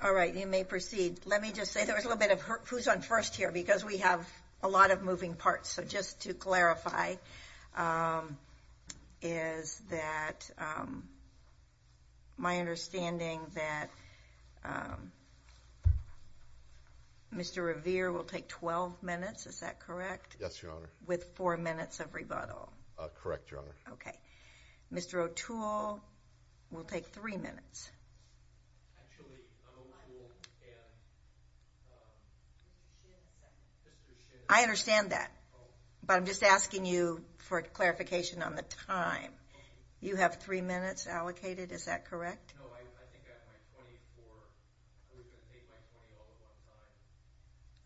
All right, you may proceed. Let me just say there was a little bit of who's on first here because we have a lot of moving parts. So just to clarify, is that my understanding that Mr. Revere will take 12 minutes. Is that correct? Yes, Your Honor. With four minutes of rebuttal? Correct, Your Honor. Okay. Mr. O'Toole will take three minutes. I understand that, but I'm just asking you for clarification on the time. You have three minutes allocated, is that correct?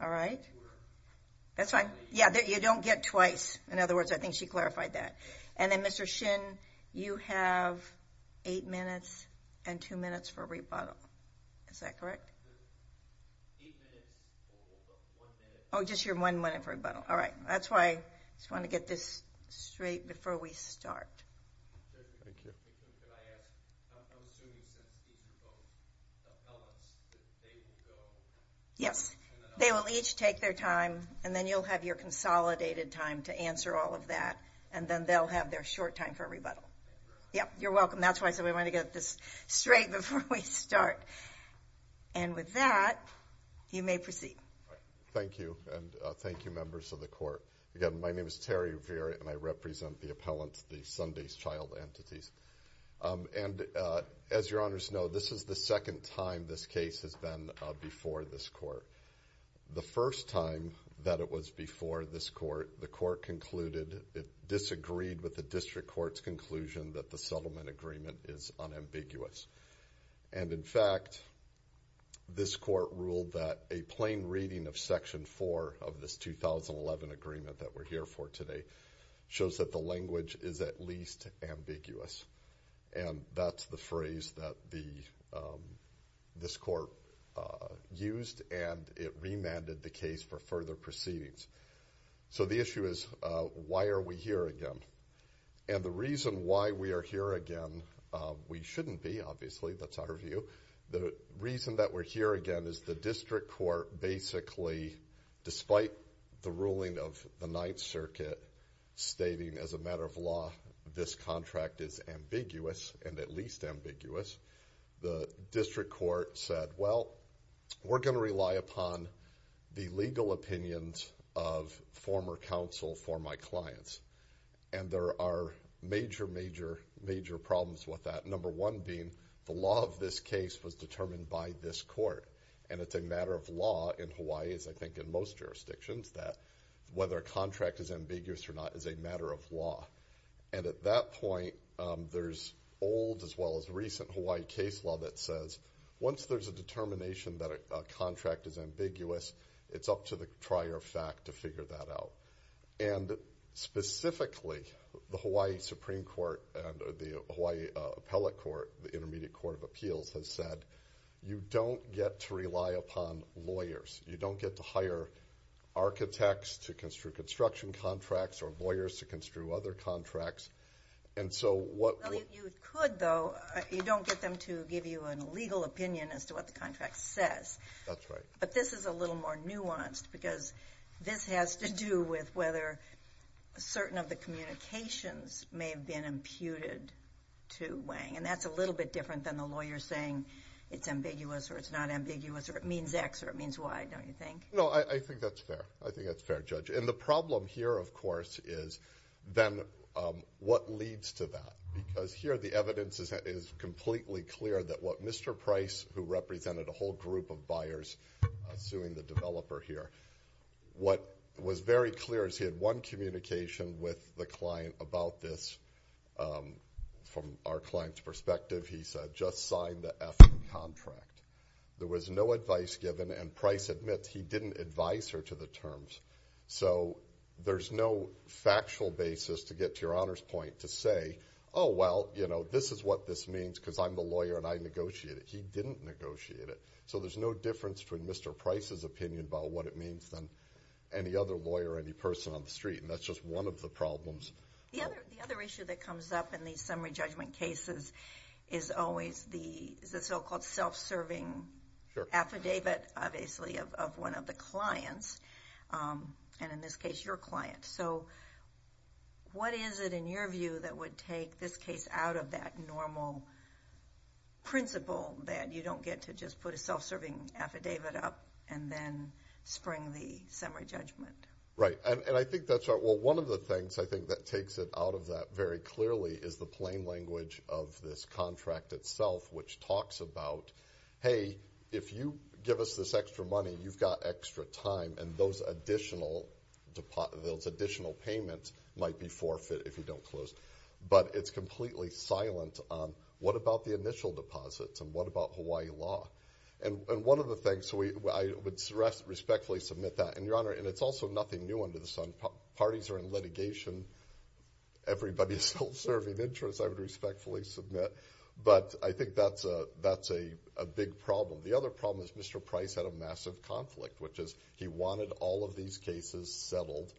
All right. That's fine. Yeah, you don't get twice. In other words, I think she clarified that. And then Mr. Shin, you have eight minutes and two minutes for rebuttal. Is that correct? Oh, just your one minute for rebuttal. All right. That's why I just want to get this straight before we start. Yes, they will each take their time and then you'll have your consolidated time to answer all of that. And then they'll have their short time for a rebuttal. Yep, you're welcome. That's why I said we want to get this straight before we start. And with that, you may proceed. Thank you. And thank you members of the court. Again, my name is Terry Revere and I represent the appellants, the Sunday's child entities. And as Your Honor's know, this is the second time this case has been before this court. The first time that it was before this court, the court concluded it disagreed with the district court's conclusion that the settlement agreement is unambiguous. And in fact, this court ruled that a plain reading of section four of this 2011 agreement that we're here for today shows that the language is at least ambiguous. And that's the phrase that this court used and it remanded the case for further proceedings. So the issue is why are we here again? And the reason why we are here again, we shouldn't be obviously, that's our view. The reason that we're here again is the district court basically, despite the ruling of the Ninth Circuit stating as a matter of law, this contract is ambiguous and at least ambiguous. The district court said, well, we're going to rely upon the legal opinions of former counsel for my clients. And there are major, major, major problems with that. Number one being, the law of this case was determined by this court. And it's a matter of law in Hawaii, as I think in most jurisdictions, that whether a contract is ambiguous or not as well as recent Hawaii case law that says, once there's a determination that a contract is ambiguous, it's up to the trier of fact to figure that out. And specifically, the Hawaii Supreme Court and the Hawaii Appellate Court, the Intermediate Court of Appeals has said you don't get to rely upon lawyers. You don't get to hire architects to construe construction contracts or lawyers to construe other contracts. And so, what- Well, if you could, though, you don't get them to give you a legal opinion as to what the contract says. That's right. But this is a little more nuanced because this has to do with whether certain of the communications may have been imputed to Wang. And that's a little bit different than the lawyer saying it's ambiguous or it's not ambiguous or it means X or it means Y, don't you think? No, I think that's fair. I think that's fair, Judge. And the problem here, of course, is then what leads to that? Because here, the evidence is completely clear that what Mr. Price, who represented a whole group of buyers suing the developer here, what was very clear is he had one communication with the client about this. From our client's perspective, he said, just sign the F contract. There was no advice given and Price admits he didn't advise her to the terms. So, there's no factual basis to get to your Honor's point to say, oh, well, this is what this means because I'm the lawyer and I negotiated. He didn't negotiate it. So, there's no difference between Mr. Price's opinion about what it means than any other lawyer or any person on the street. And that's just one of the problems. The other issue that comes up in these summary judgment cases is always the so-called self-serving affidavit, obviously, of one of the clients, and in this case, your client. So, what is it, in your view, that would take this case out of that normal principle that you don't get to just put a self-serving affidavit up and then spring the summary judgment? And I think that's right. Well, one of the things I think that takes it out of that very clearly is the plain language of this contract itself, which talks about, hey, if you give us this extra money, you've got extra time and those additional payments might be forfeit if you don't close. But it's completely silent on what about the initial deposits and what about Hawaii law. And one of the things, I would respectfully submit that, and Your Honor, and it's also nothing new under the sun. Parties are in litigation. Everybody is self-serving interests, I would respectfully submit. But I think that's a big problem. The other problem is Mr. Price had a massive conflict, which is he wanted all of these cases settled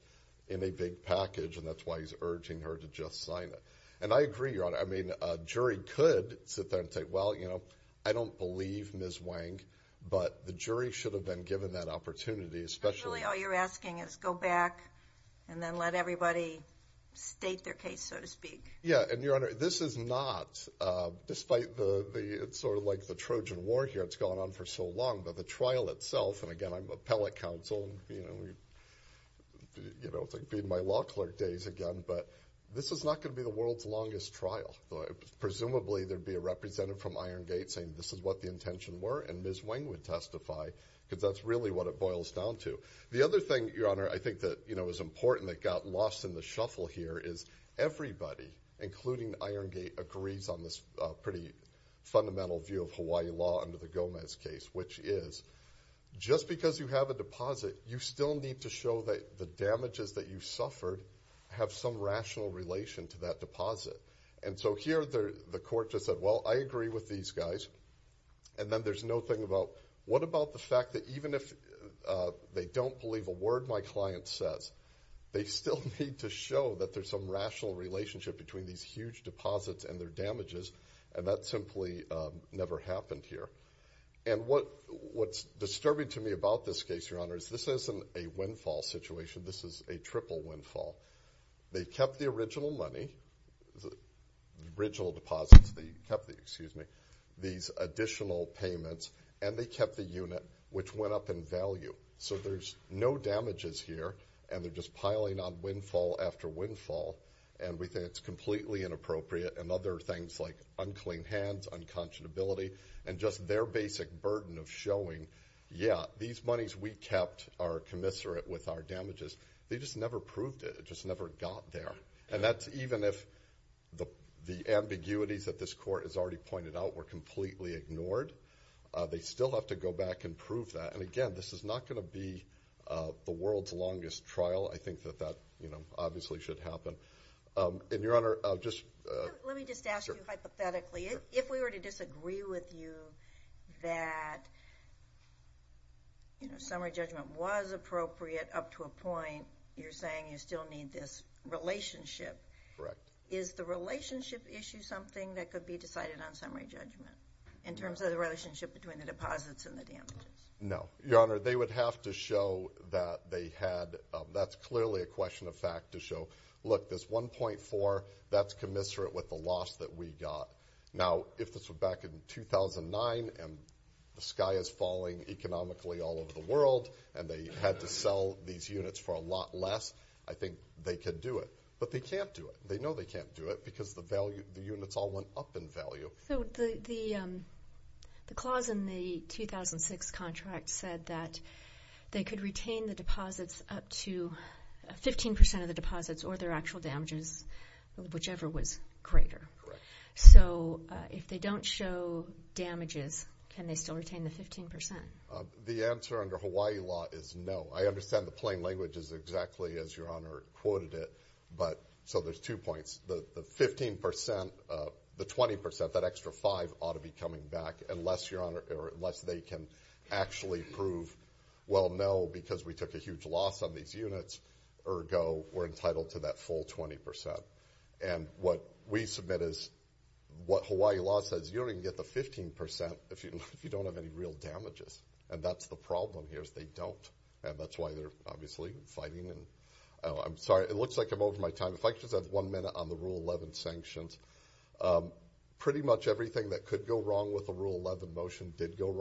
in a big package, and that's why he's urging her to just sign it. And I agree, Your Honor. I mean, a jury could sit there and say, well, you know, I don't believe Ms. Wang, but the jury should have been given that opportunity, especially... And really all you're asking is go back and then let everybody state their case, so to speak. Yeah, and Your Honor, this is not, despite the, it's sort of like the Trojan War here, it's gone on for so long, but the trial itself, and again, I'm appellate counsel, you know, it's like being my law clerk days again, but this is not going to be the world's trial. Presumably there'd be a representative from Iron Gate saying this is what the intention were, and Ms. Wang would testify, because that's really what it boils down to. The other thing, Your Honor, I think that, you know, is important that got lost in the shuffle here is everybody, including Iron Gate, agrees on this pretty fundamental view of Hawaii law under the Gomez case, which is just because you have a deposit, you still need to show that the damages that you deposit. And so here the court just said, well, I agree with these guys, and then there's no thing about what about the fact that even if they don't believe a word my client says, they still need to show that there's some rational relationship between these huge deposits and their damages, and that simply never happened here. And what's disturbing to me about this case, Your Honor, is this isn't a windfall situation. This is a triple windfall. They kept the original money, the original deposits, they kept the, excuse me, these additional payments, and they kept the unit, which went up in value. So there's no damages here, and they're just piling on windfall after windfall, and we think it's completely inappropriate, and other things like unclean hands, unconscionability, and just their basic burden of showing, yeah, these monies we kept are commensurate with our damages. They just never proved it. It just never got there. And that's even if the ambiguities that this court has already pointed out were completely ignored. They still have to go back and prove that. And again, this is not going to be the world's longest trial. I think that that, you know, obviously should happen. And Your Honor, I'll just... Let me just ask you hypothetically. If we were to disagree with you that, you know, summary judgment was appropriate up to a point, you're saying you still need this relationship. Correct. Is the relationship issue something that could be decided on summary judgment, in terms of the relationship between the deposits and the damages? No. Your Honor, they would have to show that they had, that's clearly a question of fact to show, look, this 1.4, that's commensurate with the loss that we got. Now, if this were back in 2009, and the sky is falling economically all over the world, and they had to sell these units for a lot less, I think they could do it. But they can't do it. They know they can't do it, because the value, the units all went up in value. So the clause in the 2006 contract said that they could retain the deposits up to 15% of the deposits or their damages. So if they don't show damages, can they still retain the 15%? The answer under Hawaii law is no. I understand the plain language is exactly as Your Honor quoted it, but... So there's two points. The 15%, the 20%, that extra 5% ought to be coming back, unless Your Honor, or unless they can actually prove, well, no, because we took a huge loss on these units, ergo, we're entitled to that full 20%. And what we submit is, what Hawaii law says, you don't even get the 15% if you don't have any real damages. And that's the problem here, is they don't. And that's why they're obviously fighting it. I'm sorry, it looks like I'm over my time. If I could just have one minute on the Rule 11 sanctions. Pretty much everything that could go wrong with the Rule 11 motion did go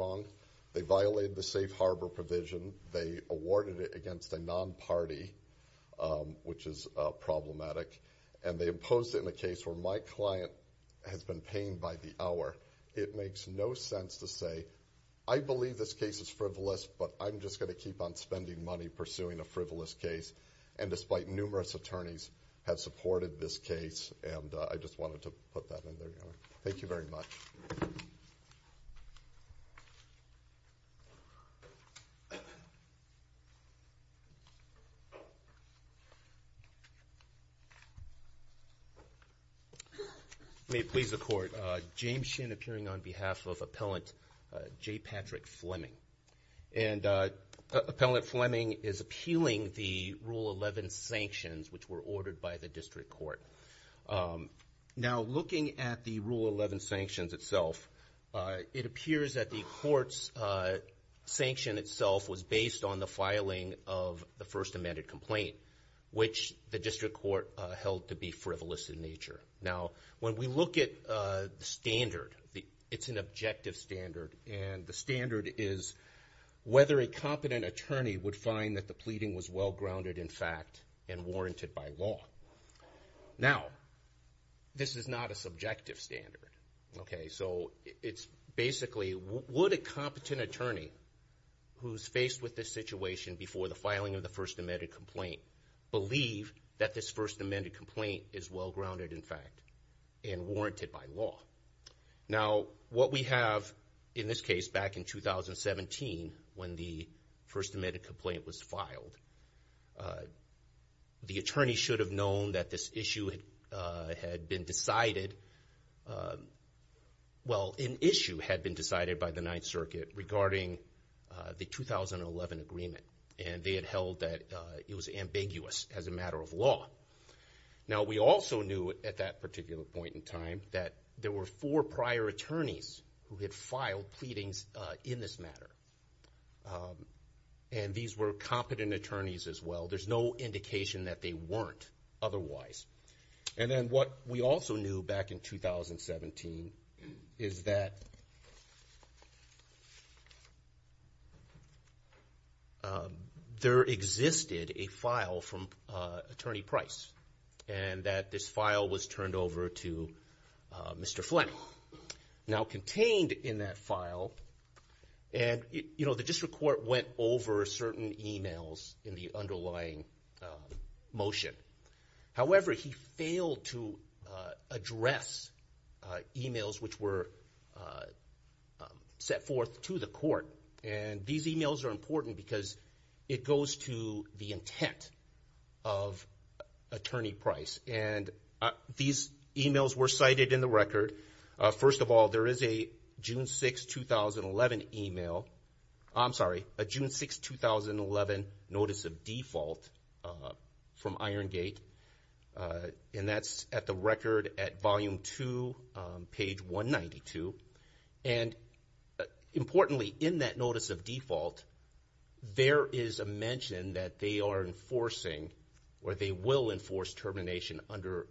which is problematic. And they imposed it in a case where my client has been paying by the hour. It makes no sense to say, I believe this case is frivolous, but I'm just going to keep on spending money pursuing a frivolous case. And despite numerous attorneys have supported this case, and I just wanted to put that in there, Your Honor. Thank you very much. May it please the Court. James Shin appearing on behalf of Appellant J. Patrick Fleming. And Appellant Fleming is appealing the Rule 11 sanctions which were ordered by the District Court. Now, looking at the Rule 11 sanctions itself, it appears that the Court's sanction itself was based on the filing of the First Amended Complaint, which the District Court held to be frivolous in nature. Now, when we look at the standard, it's an objective standard. And the standard is whether a competent attorney would find that the pleading was well-grounded, in fact, and warranted by law. Now, this is not a subjective standard. Okay, so it's basically, would a competent attorney who's faced with this situation before the filing of the First Amended Complaint believe that this First Amended Complaint is well-grounded, in fact, and warranted by law? Now, what we have in this case back in 2017, when the First Amended Complaint was filed, the attorney should have known that this issue had been decided, well, an issue had been decided by the Ninth Circuit regarding the 2011 agreement. And they had held that it was ambiguous as a matter of law. Now, we also knew at that particular point in time that there were four prior attorneys who had filed pleadings in this matter. And these were competent attorneys as well. There's no indication that they weren't otherwise. And then what we also knew back in 2017 is that there existed a file from Attorney Price, and that this file was turned over to Mr. Fleming. Now, contained in that file, and, you know, the district court went over certain emails in the underlying motion. However, he failed to address emails which were set forth to the court. And these emails are important because it goes to the intent of Attorney Price. And these emails were cited in the record. First of all, there is a June 6, 2011 email, I'm sorry, a June 6, 2011 notice of default from Iron Gate. And that's at the record at volume two, page 192. And importantly, in that notice of default, there is a mention that they are enforcing or they will enforce termination under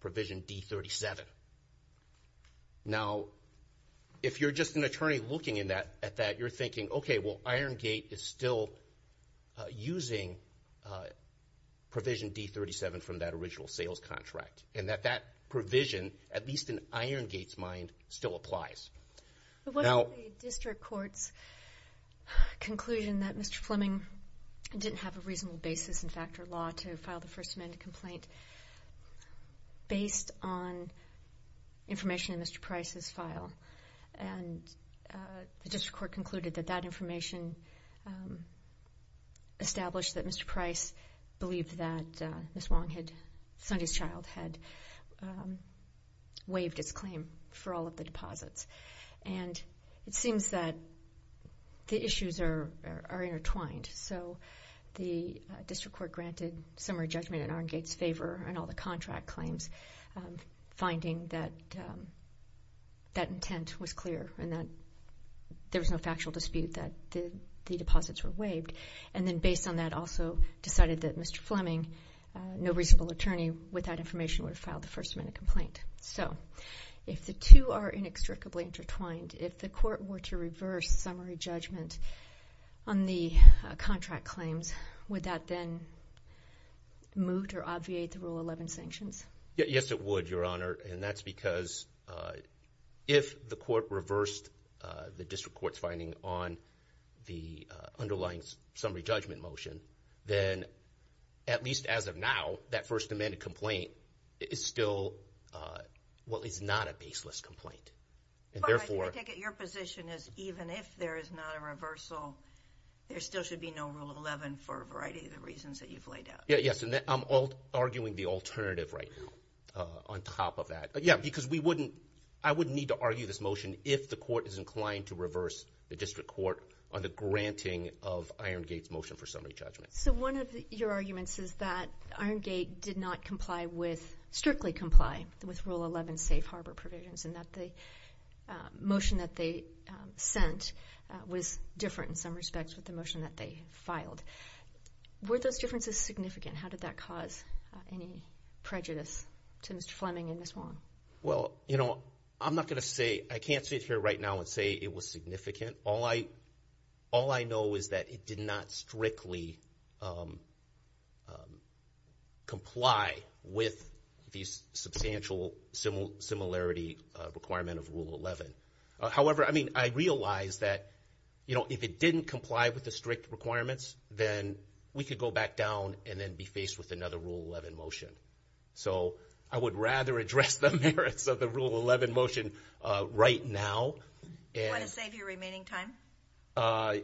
provision D37. Now, if you're just going at that, you're thinking, okay, well, Iron Gate is still using provision D37 from that original sales contract. And that that provision, at least in Iron Gate's mind, still applies. But what about the district court's conclusion that Mr. Fleming didn't have a reasonable basis in factor law to file the First Amendment complaint based on information in Mr. Price's file? And the district court concluded that that information established that Mr. Price believed that Ms. Wong had, Sonny's child, had waived its claim for all of the deposits. And it seems that the issues are intertwined. So the district court granted summary judgment in Iron Gate's favor on all the contract claims, finding that that intent was clear and that there was no factual dispute that the deposits were waived. And then based on that, also decided that Mr. Fleming, no reasonable attorney, without information would have filed the First Amendment complaint. So if the two are inextricably intertwined, if the court were to reverse summary judgment on the contract claims, would that then moot or obviate the Rule 11 sanctions? Yes, it would, Your Honor. And that's because if the court reversed the district court's finding on the underlying summary judgment motion, then at least as of now, that First Amendment complaint is still what is not a baseless complaint. But I take it your position is even if there is not a reversal, there still should be no Rule 11 for a variety of the reasons that you've laid out. Yes, and I'm arguing the alternative right now on top of that. Yeah, because we wouldn't, I wouldn't need to argue this motion if the court is inclined to reverse the district court on the granting of Iron Gate's motion for summary judgment. So one of your arguments is that Iron Gate did not comply with, strictly comply with, Rule 11 safe harbor provisions and that the motion that they sent was different in some ways from the one that was filed. Were those differences significant? How did that cause any prejudice to Mr. Fleming and Ms. Wong? Well, you know, I'm not going to say, I can't sit here right now and say it was significant. All I, all I know is that it did not strictly comply with these substantial similarity requirement of Rule 11. However, I mean, I realize that, you know, if it didn't comply with the strict requirements, then we could go back down and then be faced with another Rule 11 motion. So I would rather address the merits of the Rule 11 motion right now. Want to save your remaining time?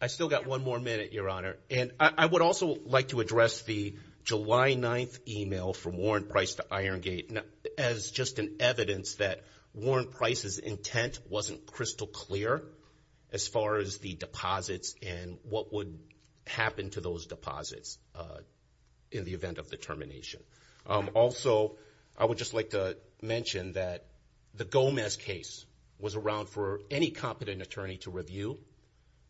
I still got one more minute, Your Honor. And I would also like to address the July 9th email from Warrant Price to Iron Gate as just an evidence that Warrant Price's intent wasn't crystal clear as far as the deposits and what would happen to those deposits in the event of the termination. Also, I would just like to mention that the Gomez case was around for any competent attorney to review.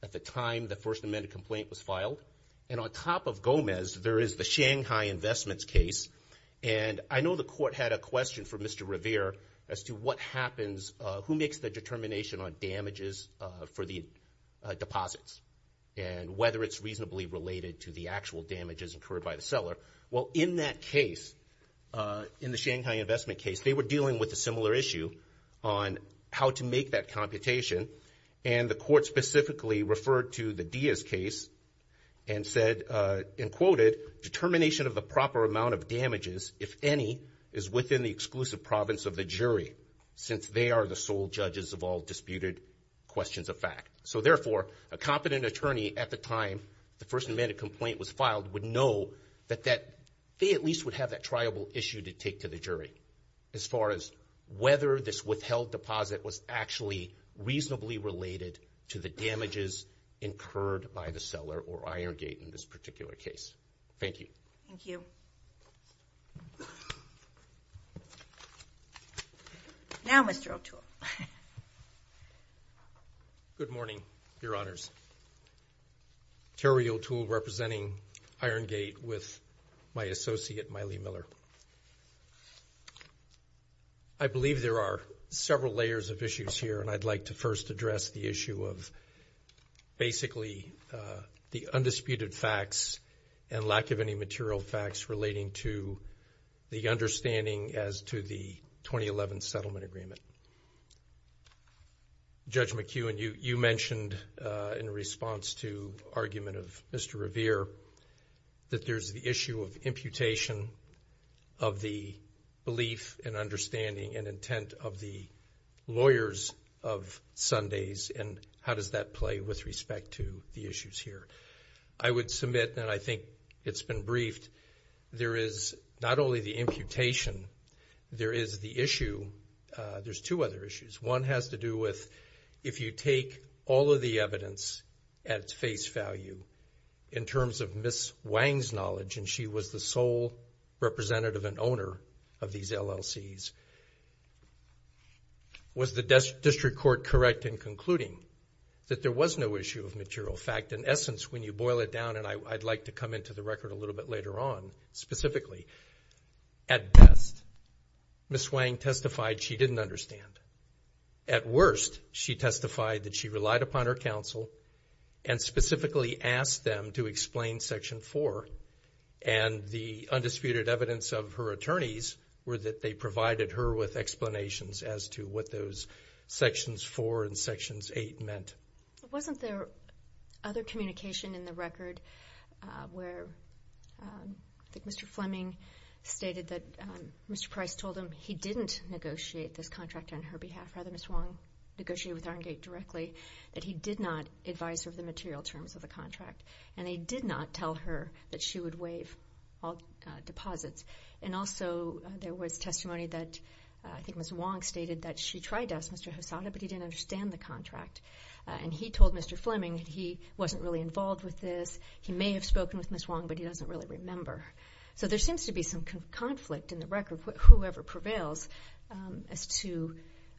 At the time, the First Amendment complaint was filed. And on top of Gomez, there is the Shanghai Investments case. And I know the court had a question for Mr. Revere as to what happens, who makes the determination on damages for the deposits and whether it's reasonably related to the actual damages incurred by the seller. Well, in that case, in the Shanghai Investment case, they were dealing with a similar issue on how to make that computation. And the court specifically referred to the Diaz case and said, and quoted, determination of the proper amount of damages, if any, is within the exclusive province of the jury since they are the sole judges of all disputed questions of fact. So therefore, a competent attorney at the time the First Amendment complaint was filed would know that they at least would have that triable issue to take to the jury as far as whether this withheld deposit was actually reasonably related to the damages incurred by the seller or Iron Gate in this particular case. Thank you. Thank you. Now, Mr. O'Toole. Good morning, Your Honors. Terry O'Toole representing Iron Gate with my associate, Miley Miller. I believe there are several layers of issues here, and I'd like to first address the basically the undisputed facts and lack of any material facts relating to the understanding as to the 2011 settlement agreement. Judge McEwen, you mentioned in response to argument of Mr. Revere that there's the issue of imputation of the belief and understanding and intent of the the issues here. I would submit, and I think it's been briefed, there is not only the imputation, there is the issue, there's two other issues. One has to do with if you take all of the evidence at face value in terms of Ms. Wang's knowledge, and she was the sole representative and owner of these LLCs. Was the district court correct in concluding that there was no issue of material fact? In essence, when you boil it down, and I'd like to come into the record a little bit later on specifically, at best, Ms. Wang testified she didn't understand. At worst, she testified that she relied upon her counsel and specifically asked them to explain Section 4, and the undisputed evidence of her attorneys were that they provided her with explanations as to what those Sections 4 and Sections 8 meant. Wasn't there other communication in the record where I think Mr. Fleming stated that Mr. Price told him he didn't negotiate this contract on her behalf, rather Ms. Wang negotiated with Arngate directly, that he did not advise her of the And also there was testimony that I think Ms. Wang stated that she tried to ask Mr. Hosoda, but he didn't understand the contract, and he told Mr. Fleming he wasn't really involved with this. He may have spoken with Ms. Wang, but he doesn't really remember. So there seems to be some conflict in the record, whoever prevails, as to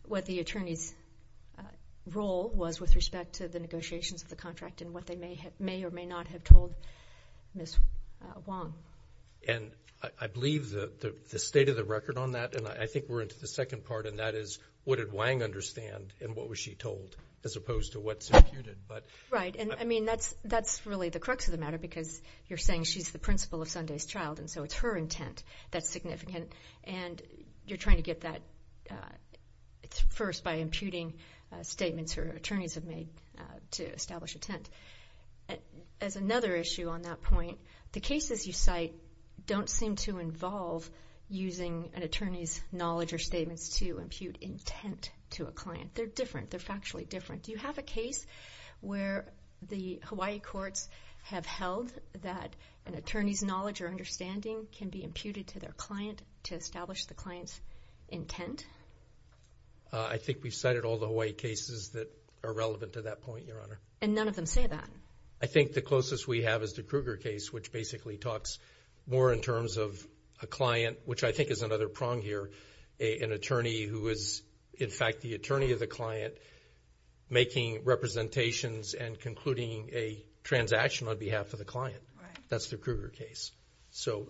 what the attorney's role was with respect to the state of the record on that, and I think we're into the second part, and that is what did Wang understand, and what was she told, as opposed to what's imputed. Right, and I mean that's really the crux of the matter, because you're saying she's the principal of Sunday's Child, and so it's her intent that's significant, and you're trying to get that first by imputing statements her attorneys have made to establish intent. And as another issue on that point, the cases you cite don't seem to involve using an attorney's knowledge or statements to impute intent to a client. They're different. They're factually different. Do you have a case where the Hawaii courts have held that an attorney's knowledge or understanding can be imputed to their client to establish the client's intent? I think we've cited all the Hawaii cases that are relevant to that point, Your Honor. And none of them say that? I think the closest we have is the Kruger case, which basically talks more in terms of a client, which I think is another prong here, an attorney who is, in fact, the attorney of the client making representations and concluding a transaction on behalf of the client. That's the Kruger case. So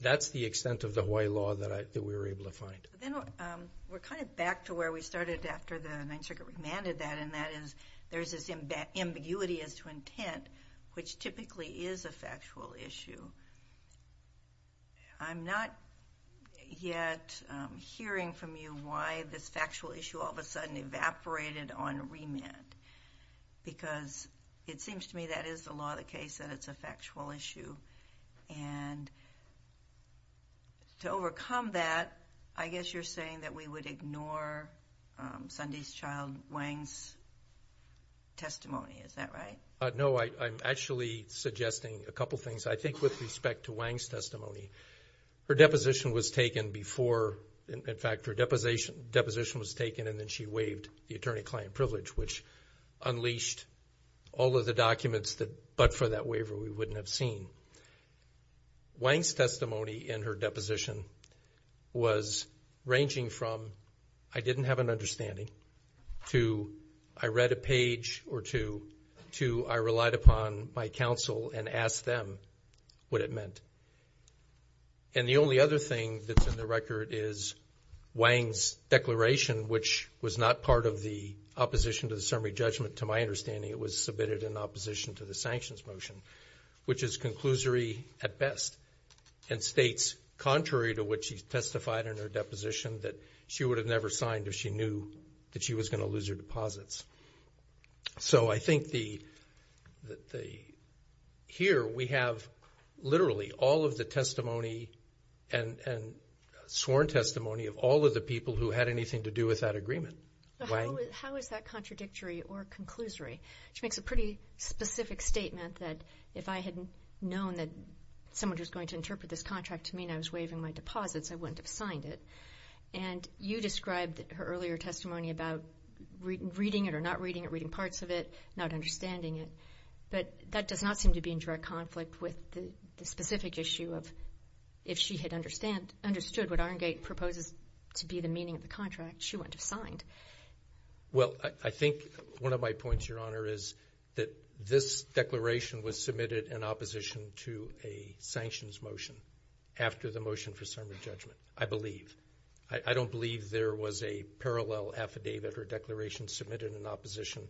that's the extent of the Hawaii law that we were able to find. Then we're kind of back to where we started after the Ninth Circuit. We demanded that, there's this ambiguity as to intent, which typically is a factual issue. I'm not yet hearing from you why this factual issue all of a sudden evaporated on remand, because it seems to me that is the law of the case, that it's a factual issue. And to overcome that, I guess you're saying that we would ignore Sundy's child Wang's testimony. Is that right? No, I'm actually suggesting a couple things. I think with respect to Wang's testimony, her deposition was taken before, in fact, her deposition was taken and then she waived the attorney-client privilege, which unleashed all of the documents that, but for that waiver, we wouldn't have seen. Wang's testimony in her deposition was ranging from, I didn't have an understanding, to I read a page or two, to I relied upon my counsel and asked them what it meant. And the only other thing that's in the record is Wang's declaration, which was not part of the opposition to the summary judgment, to my understanding, it was submitted in opposition to the sanctions motion, which is conclusory at best, and states contrary to what she testified in her deposition, that she would have never signed if she knew that she was going to lose her deposits. So I think here we have literally all of the testimony and sworn testimony of all of the people who had anything to do with that agreement. How is that contradictory or conclusory? Which makes a pretty specific statement that if I had known that someone was going to interpret this contract to mean I was waiving my deposits, I wouldn't have signed it. And you described her earlier testimony about reading it or not reading it, reading parts of it, not understanding it, but that does not seem to be in direct conflict with the specific issue of if she had understood what Iron Gate proposes to be the meaning of the contract, she wouldn't have signed. Well, I think one of my points, Your Honor, is that this declaration was submitted in opposition to a sanctions motion after the motion for summary judgment, I believe. I don't believe there was a parallel affidavit or declaration submitted in opposition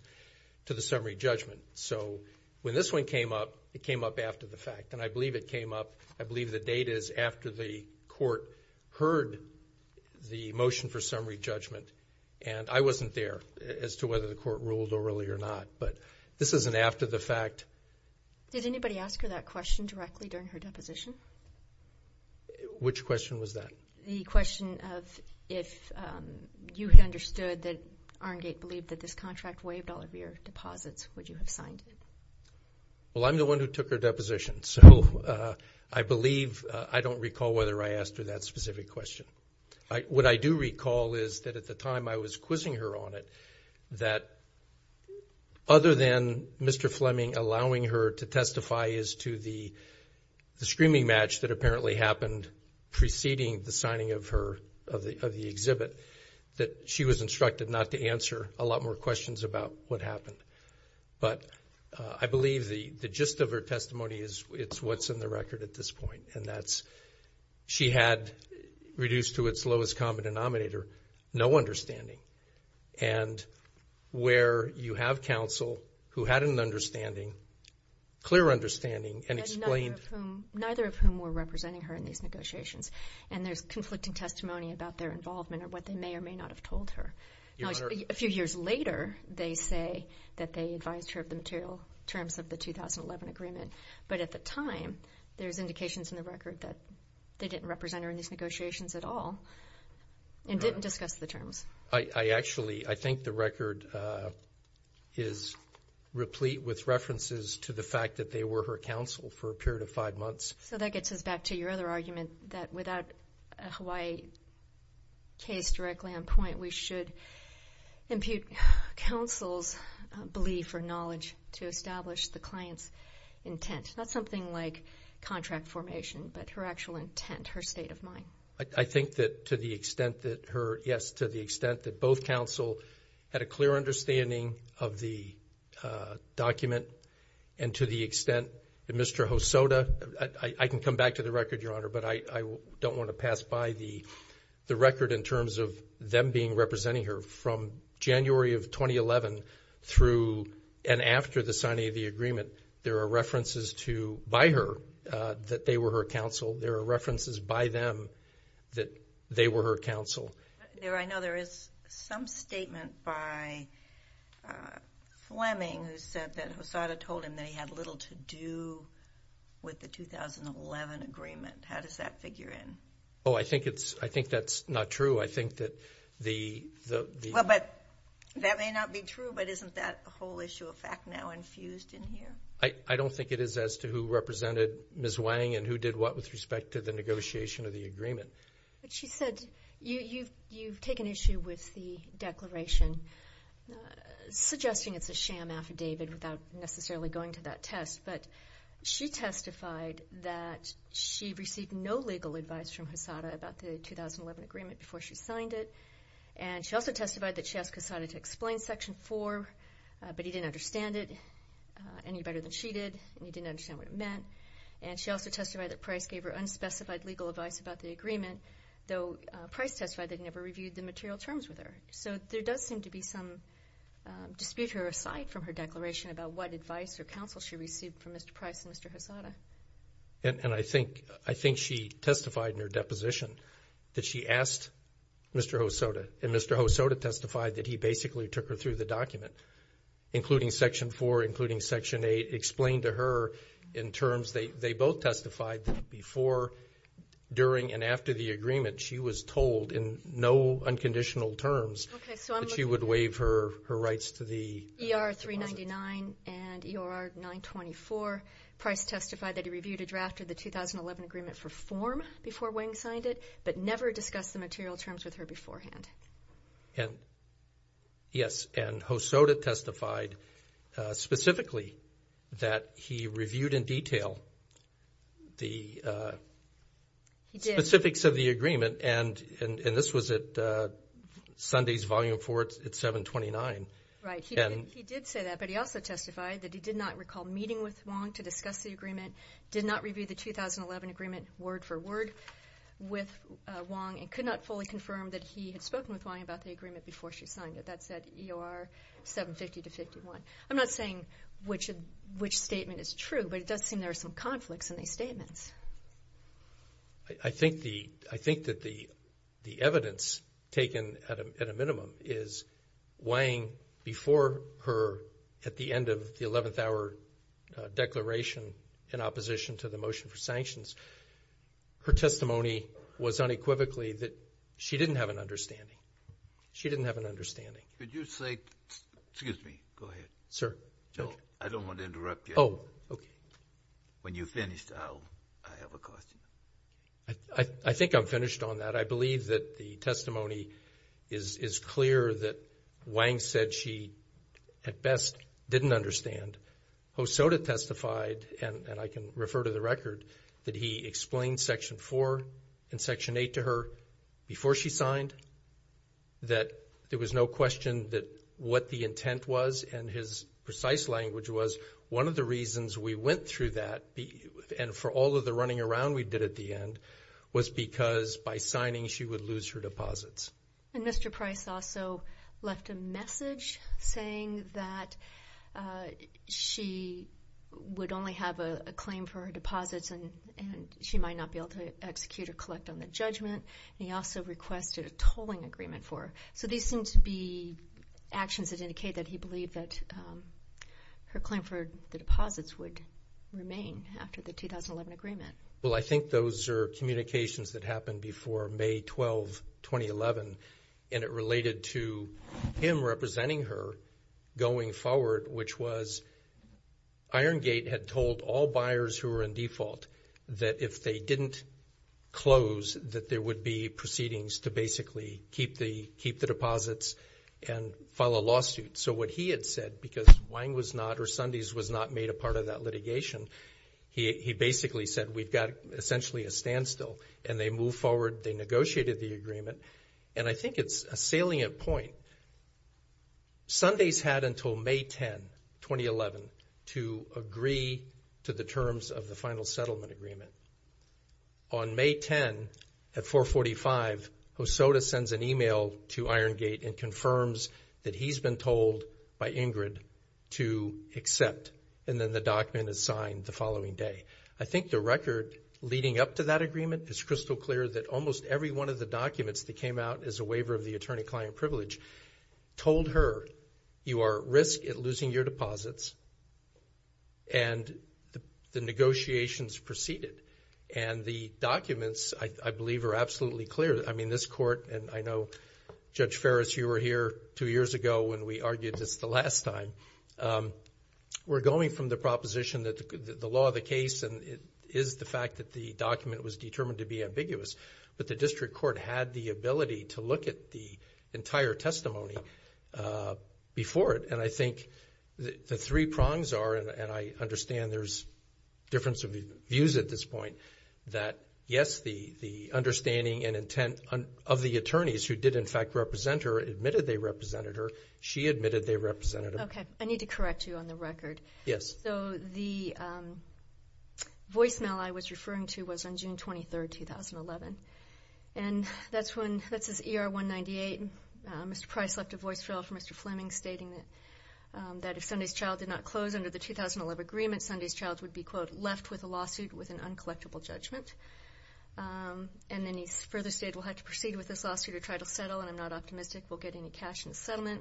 to the summary judgment. So when this one came up, it came up after the fact. And I believe it came up, I believe the date is after the court heard the motion for summary judgment. And I wasn't there as to whether the court ruled orally or not. But this is an after the fact. Did anybody ask her that question directly during her deposition? Which question was that? The question of if you had understood that Iron Gate believed that this contract waived all of your deposits, would you have signed it? Well, I'm the one who took her deposition. So I believe, I don't recall whether I asked her that specific question. What I do recall is that at the time I was quizzing her on it, that other than Mr. Fleming allowing her to that apparently happened preceding the signing of her, of the exhibit, that she was instructed not to answer a lot more questions about what happened. But I believe the gist of her testimony is it's what's in the record at this point. And that's she had reduced to its lowest common denominator, no understanding. And where you have counsel who had an understanding, clear understanding and explained. Neither of whom were representing her in these negotiations. And there's conflicting testimony about their involvement or what they may or may not have told her. A few years later, they say that they advised her of the material terms of the 2011 agreement. But at the time, there's indications in the record that they didn't represent her in these negotiations at all and didn't discuss the terms. I actually, I think the record is replete with references to the fact that they were her counsel for a period of five months. So that gets us back to your other argument that without a Hawaii case directly on point, we should impute counsel's belief or knowledge to establish the client's intent. Not something like contract formation, but her actual intent, her state of mind. I think that to the extent that her, yes, to the extent that both counsel had a clear understanding of the document and to the extent that Mr. Hosoda, I can come back to the record, Your Honor, but I don't want to pass by the record in terms of them being representing her from January of 2011 through and after the signing of the agreement. There are references to, by her, that they were her counsel. There are references by them that they were her counsel. I know there is some statement by Fleming who said that Hosoda told him that he had little to do with the 2011 agreement. How does that figure in? Oh, I think it's, I think that's not true. I think that the... Well, but that may not be true, but isn't that whole issue of fact now infused in here? I don't think it is as to who represented Ms. Wang and who did what with respect to negotiation of the agreement. But she said, you've taken issue with the declaration suggesting it's a sham affidavit without necessarily going to that test, but she testified that she received no legal advice from Hosoda about the 2011 agreement before she signed it, and she also testified that she asked Hosoda to explain Section 4, but he didn't understand it any better than she did, and he didn't understand what it meant, and she also testified that Price gave her unspecified legal advice about the agreement, though Price testified that he never reviewed the material terms with her. So there does seem to be some dispute here aside from her declaration about what advice or counsel she received from Mr. Price and Mr. Hosoda. And I think she testified in her deposition that she asked Mr. Hosoda, and Mr. Hosoda testified that he basically took her through the document, including Section 4, including Section 8, explained to her in terms, they both testified that before, during, and after the agreement, she was told in no unconditional terms that she would waive her rights to the deposit. ER-399 and ER-924, Price testified that he reviewed a draft of the 2011 agreement for form before Wang signed it, but never discussed the material terms with her beforehand. And, yes, and Hosoda testified specifically that he reviewed in detail the specifics of the agreement, and this was at Sunday's Volume 4 at 729. Right, he did say that, but he also testified that he did not recall meeting with Wang to discuss the agreement, did not review the 2011 agreement word for word with Wang, and could not fully confirm that he had spoken with Wang about the agreement before she signed it. That's at ER-750-51. I'm not saying which statement is true, but it does seem there are some conflicts in these statements. I think that the evidence taken at a minimum is Wang, before her, at the end of the 11th hour declaration in opposition to the motion for sanctions, her testimony was unequivocally that she didn't have an understanding. She didn't have an understanding. Could you say, excuse me, go ahead. Sir. No, I don't want to interrupt you. Oh, okay. When you're finished, I'll, I have a question. I think I'm finished on that. I believe that the testimony is clear that Wang said she, at best, didn't understand. Hosoda testified, and I can refer to the record, that he explained Section 4 and Section 8 to her before she signed, that there was no question that what the intent was, and his precise language was, one of the reasons we went through that, and for all of the running around we did at the end, was because by signing, she would lose her deposits. And Mr. Price also left a message saying that she would only have a claim for her deposits, and she might not be able to execute or collect on the judgment, and he also requested a tolling agreement for her. So these seem to be actions that indicate that he believed that her claim for the deposits would remain after the 2011 agreement. Well, I think those are communications that happened before May 12, 2011, and it related to him representing her going forward, which was Iron Gate had told all buyers who were in default that if they didn't close, that there would be proceedings to basically keep the, keep the deposits and file a lawsuit. So what he had said, because Wang was not, or Sundys was not made a part of that litigation, he basically said we've got essentially a standstill, and they moved they negotiated the agreement, and I think it's a salient point. Sundys had until May 10, 2011, to agree to the terms of the final settlement agreement. On May 10 at 445, Hosoda sends an email to Iron Gate and confirms that he's been told by Ingrid to accept, and then the document is signed the following day. I think the record leading up to that agreement is crystal clear that almost every one of the documents that came out as a waiver of the attorney-client privilege told her you are at risk at losing your deposits, and the negotiations proceeded, and the documents, I believe, are absolutely clear. I mean, this Court, and I know, Judge Ferris, you were here two years ago when we argued this the last time, we're going from the proposition that the law, the case, and it is the fact that the document was determined to be ambiguous, but the District Court had the ability to look at the entire testimony before it, and I think the three prongs are, and I understand there's difference of views at this point, that yes, the understanding and intent of the attorneys who did, in fact, represent her admitted they represented her, she admitted they represented her. Okay, I need to correct you on the record. Yes. So, the voicemail I was referring to was on June 23rd, 2011, and that's when, that's his ER-198. Mr. Price left a voice mail for Mr. Fleming stating that if Sunday's Child did not close under the 2011 agreement, Sunday's Child would be, quote, left with a lawsuit with an uncollectible judgment, and then he further stated we'll have to proceed with this lawsuit to try to settle, and I'm not optimistic we'll get any cash in the settlement,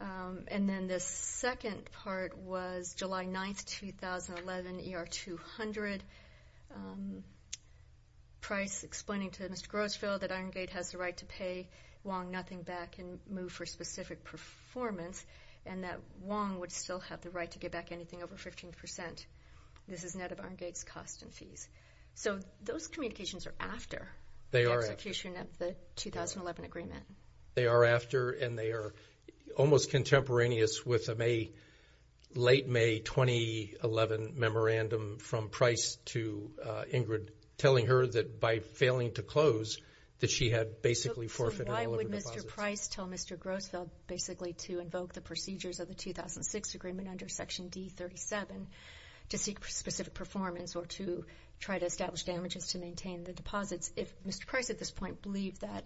and then the second part was July 9th, 2011, ER-200, Price explaining to Mr. Grossfeld that Iron Gate has the right to pay Wong nothing back and move for specific performance, and that Wong would still have the right to give back anything over 15 percent. This is net of Iron Gate's costs and fees. So, those communications are after. They are. The execution of the 2011 agreement. They are after, and they are almost contemporaneous with a late May 2011 memorandum from Price to Ingrid telling her that by failing to close, that she had basically forfeited all of her deposits. So, why would Mr. Price tell Mr. Grossfeld basically to invoke the procedures of the 2006 agreement under Section D37 to seek specific performance or to try to establish damages to maintain the deposits if Mr. Price at this point believed that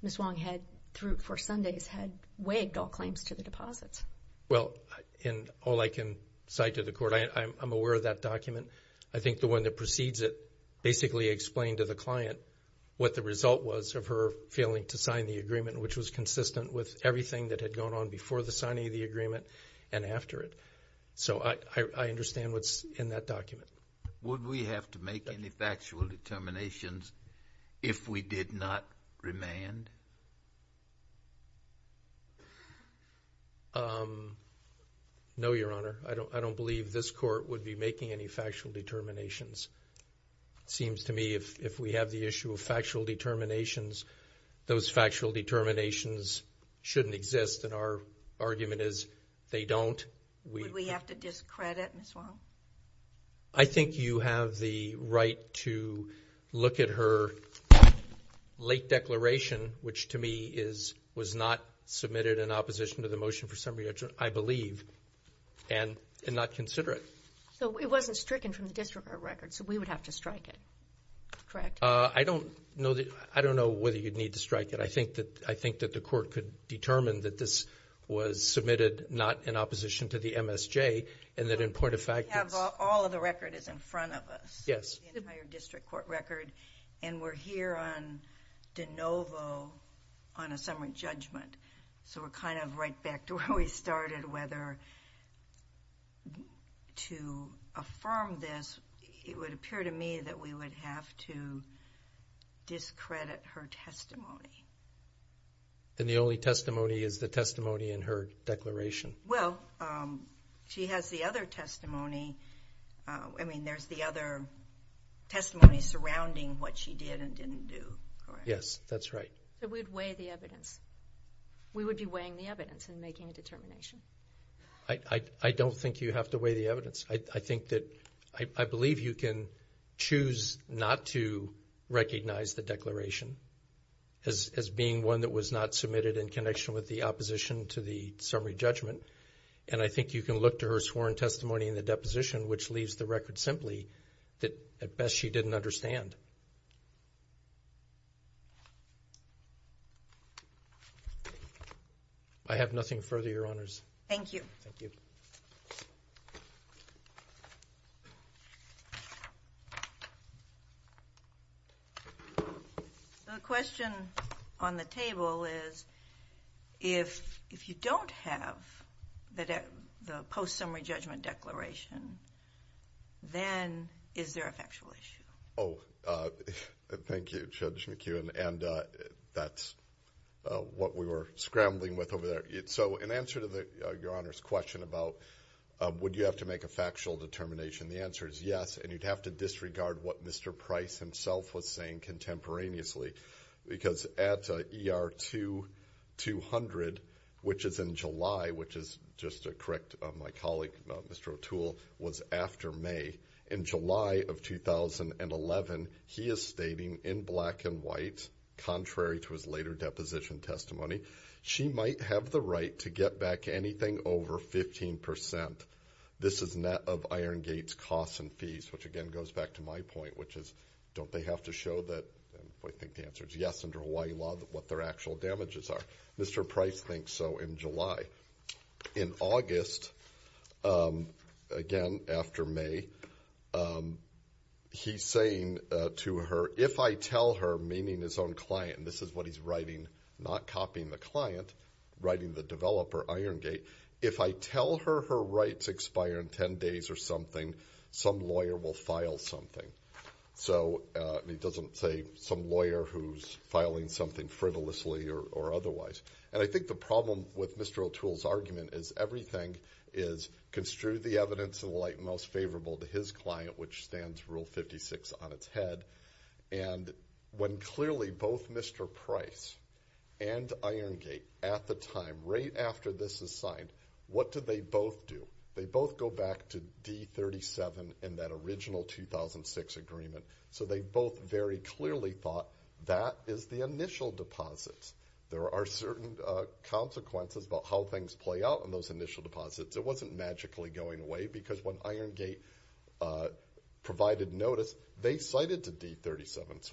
Ms. Wong had, through, for Sundays, had waived all claims to the deposits? Well, in all I can cite to the Court, I'm aware of that document. I think the one that precedes it basically explained to the client what the result was of her failing to sign the agreement, which was consistent with everything that had gone on before the signing of the agreement and after it. So, I understand what's in that document. Would we have to make any factual determinations if we did not remand? No, Your Honor. I don't believe this Court would be making any factual determinations. It seems to me if we have the issue of factual determinations, those factual determinations shouldn't exist, and our argument is they don't. Would we have to discredit Ms. Wong? I think you have the right to look at her late declaration, which to me was not submitted in opposition to the motion for summary judgment, I believe, and not consider it. So, it wasn't stricken from the district court record, so we would have to strike it, correct? I don't know whether you'd need to strike it. I think that the Court could determine that this was submitted not in opposition to the MSJ, and that in point of fact... All of the record is in front of us. Yes. The entire district court record, and we're here on de novo on a summary judgment. So, we're kind of right back to where we started, whether to affirm this, it would appear to me that we would have to discredit her testimony. And the only testimony is the testimony in her declaration? Well, she has the other testimony. I mean, there's the other testimony surrounding what she did and didn't do, correct? Yes, that's right. So, we'd weigh the evidence. We would be weighing the evidence and making a determination. I don't think you have to weigh the evidence. I believe you can choose not to recognize the as being one that was not submitted in connection with the opposition to the summary judgment. And I think you can look to her sworn testimony in the deposition, which leaves the record simply that, at best, she didn't understand. I have nothing further, Your Honors. Thank you. The question on the table is, if you don't have the post-summary judgment declaration, then is there a factual issue? Oh, thank you, Judge McKeown. And that's what we were scrambling with over there. So, in answer to Your Honor's question about would you have to make a factual determination, the answer is yes, and you'd have to disregard what Mr. Price himself was saying contemporaneously. Because at ER-200, which is in July, which is just to correct my colleague, Mr. O'Toole, was after May. In July of 2011, he is stating in black and white, contrary to his later deposition testimony, she might have the right to get back anything over 15 percent. This is net of Iron Gate's costs and fees, which again goes back to my point, which is don't they have to show that, I think the answer is yes, under Hawaii law, what their actual damages are. Mr. Price thinks so in July. In August, again after May, he's saying to her, if I tell her, meaning his own client, this is what he's writing, not copying the client, writing the developer Iron Gate, if I tell her her rights expire in 10 days or something, some lawyer will file something. So, he doesn't say some lawyer who's filing something frivolously or otherwise. And I think the problem with Mr. O'Toole's argument is everything is construed the evidence of the case. So, I think the problem with Mr. Price and Iron Gate at the time, right after this is signed, what do they both do? They both go back to D-37 in that original 2006 agreement. So, they both very clearly thought that is the initial deposit. There are certain consequences about how things play out in those initial deposits. It wasn't magically going away because when Iron Gate was signed in January of 2007, it was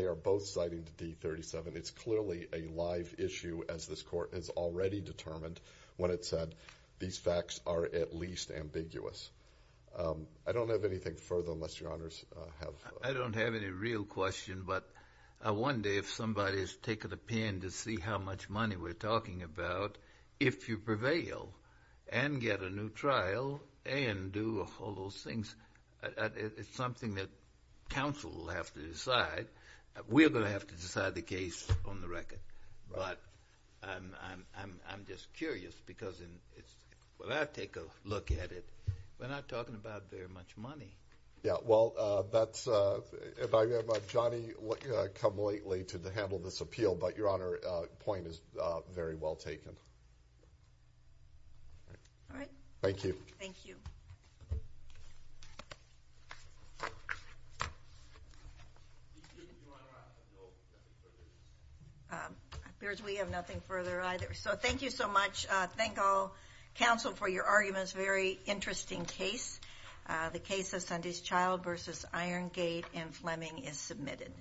a year before the D-37. It's clearly a live issue as this court has already determined when it said these facts are at least ambiguous. I don't have anything further unless Your Honors have... I don't have any real question, but one day if somebody's taken a pin to see how much money we're talking about, if you prevail and get a new trial and do all those things, it's something that counsel will have to decide. We're going to have to decide the case on the record, but I'm just curious because when I take a look at it, we're not talking about very much money. Yeah, well, that's... Johnny come lately to handle this appeal, but Your Honor, point is very well taken. All right. Thank you. Thank you. It appears we have nothing further either. So thank you so much. Thank all counsel for your arguments. Very interesting case. The case of Sunday's Child versus Iron Gate in Fleming is submitted.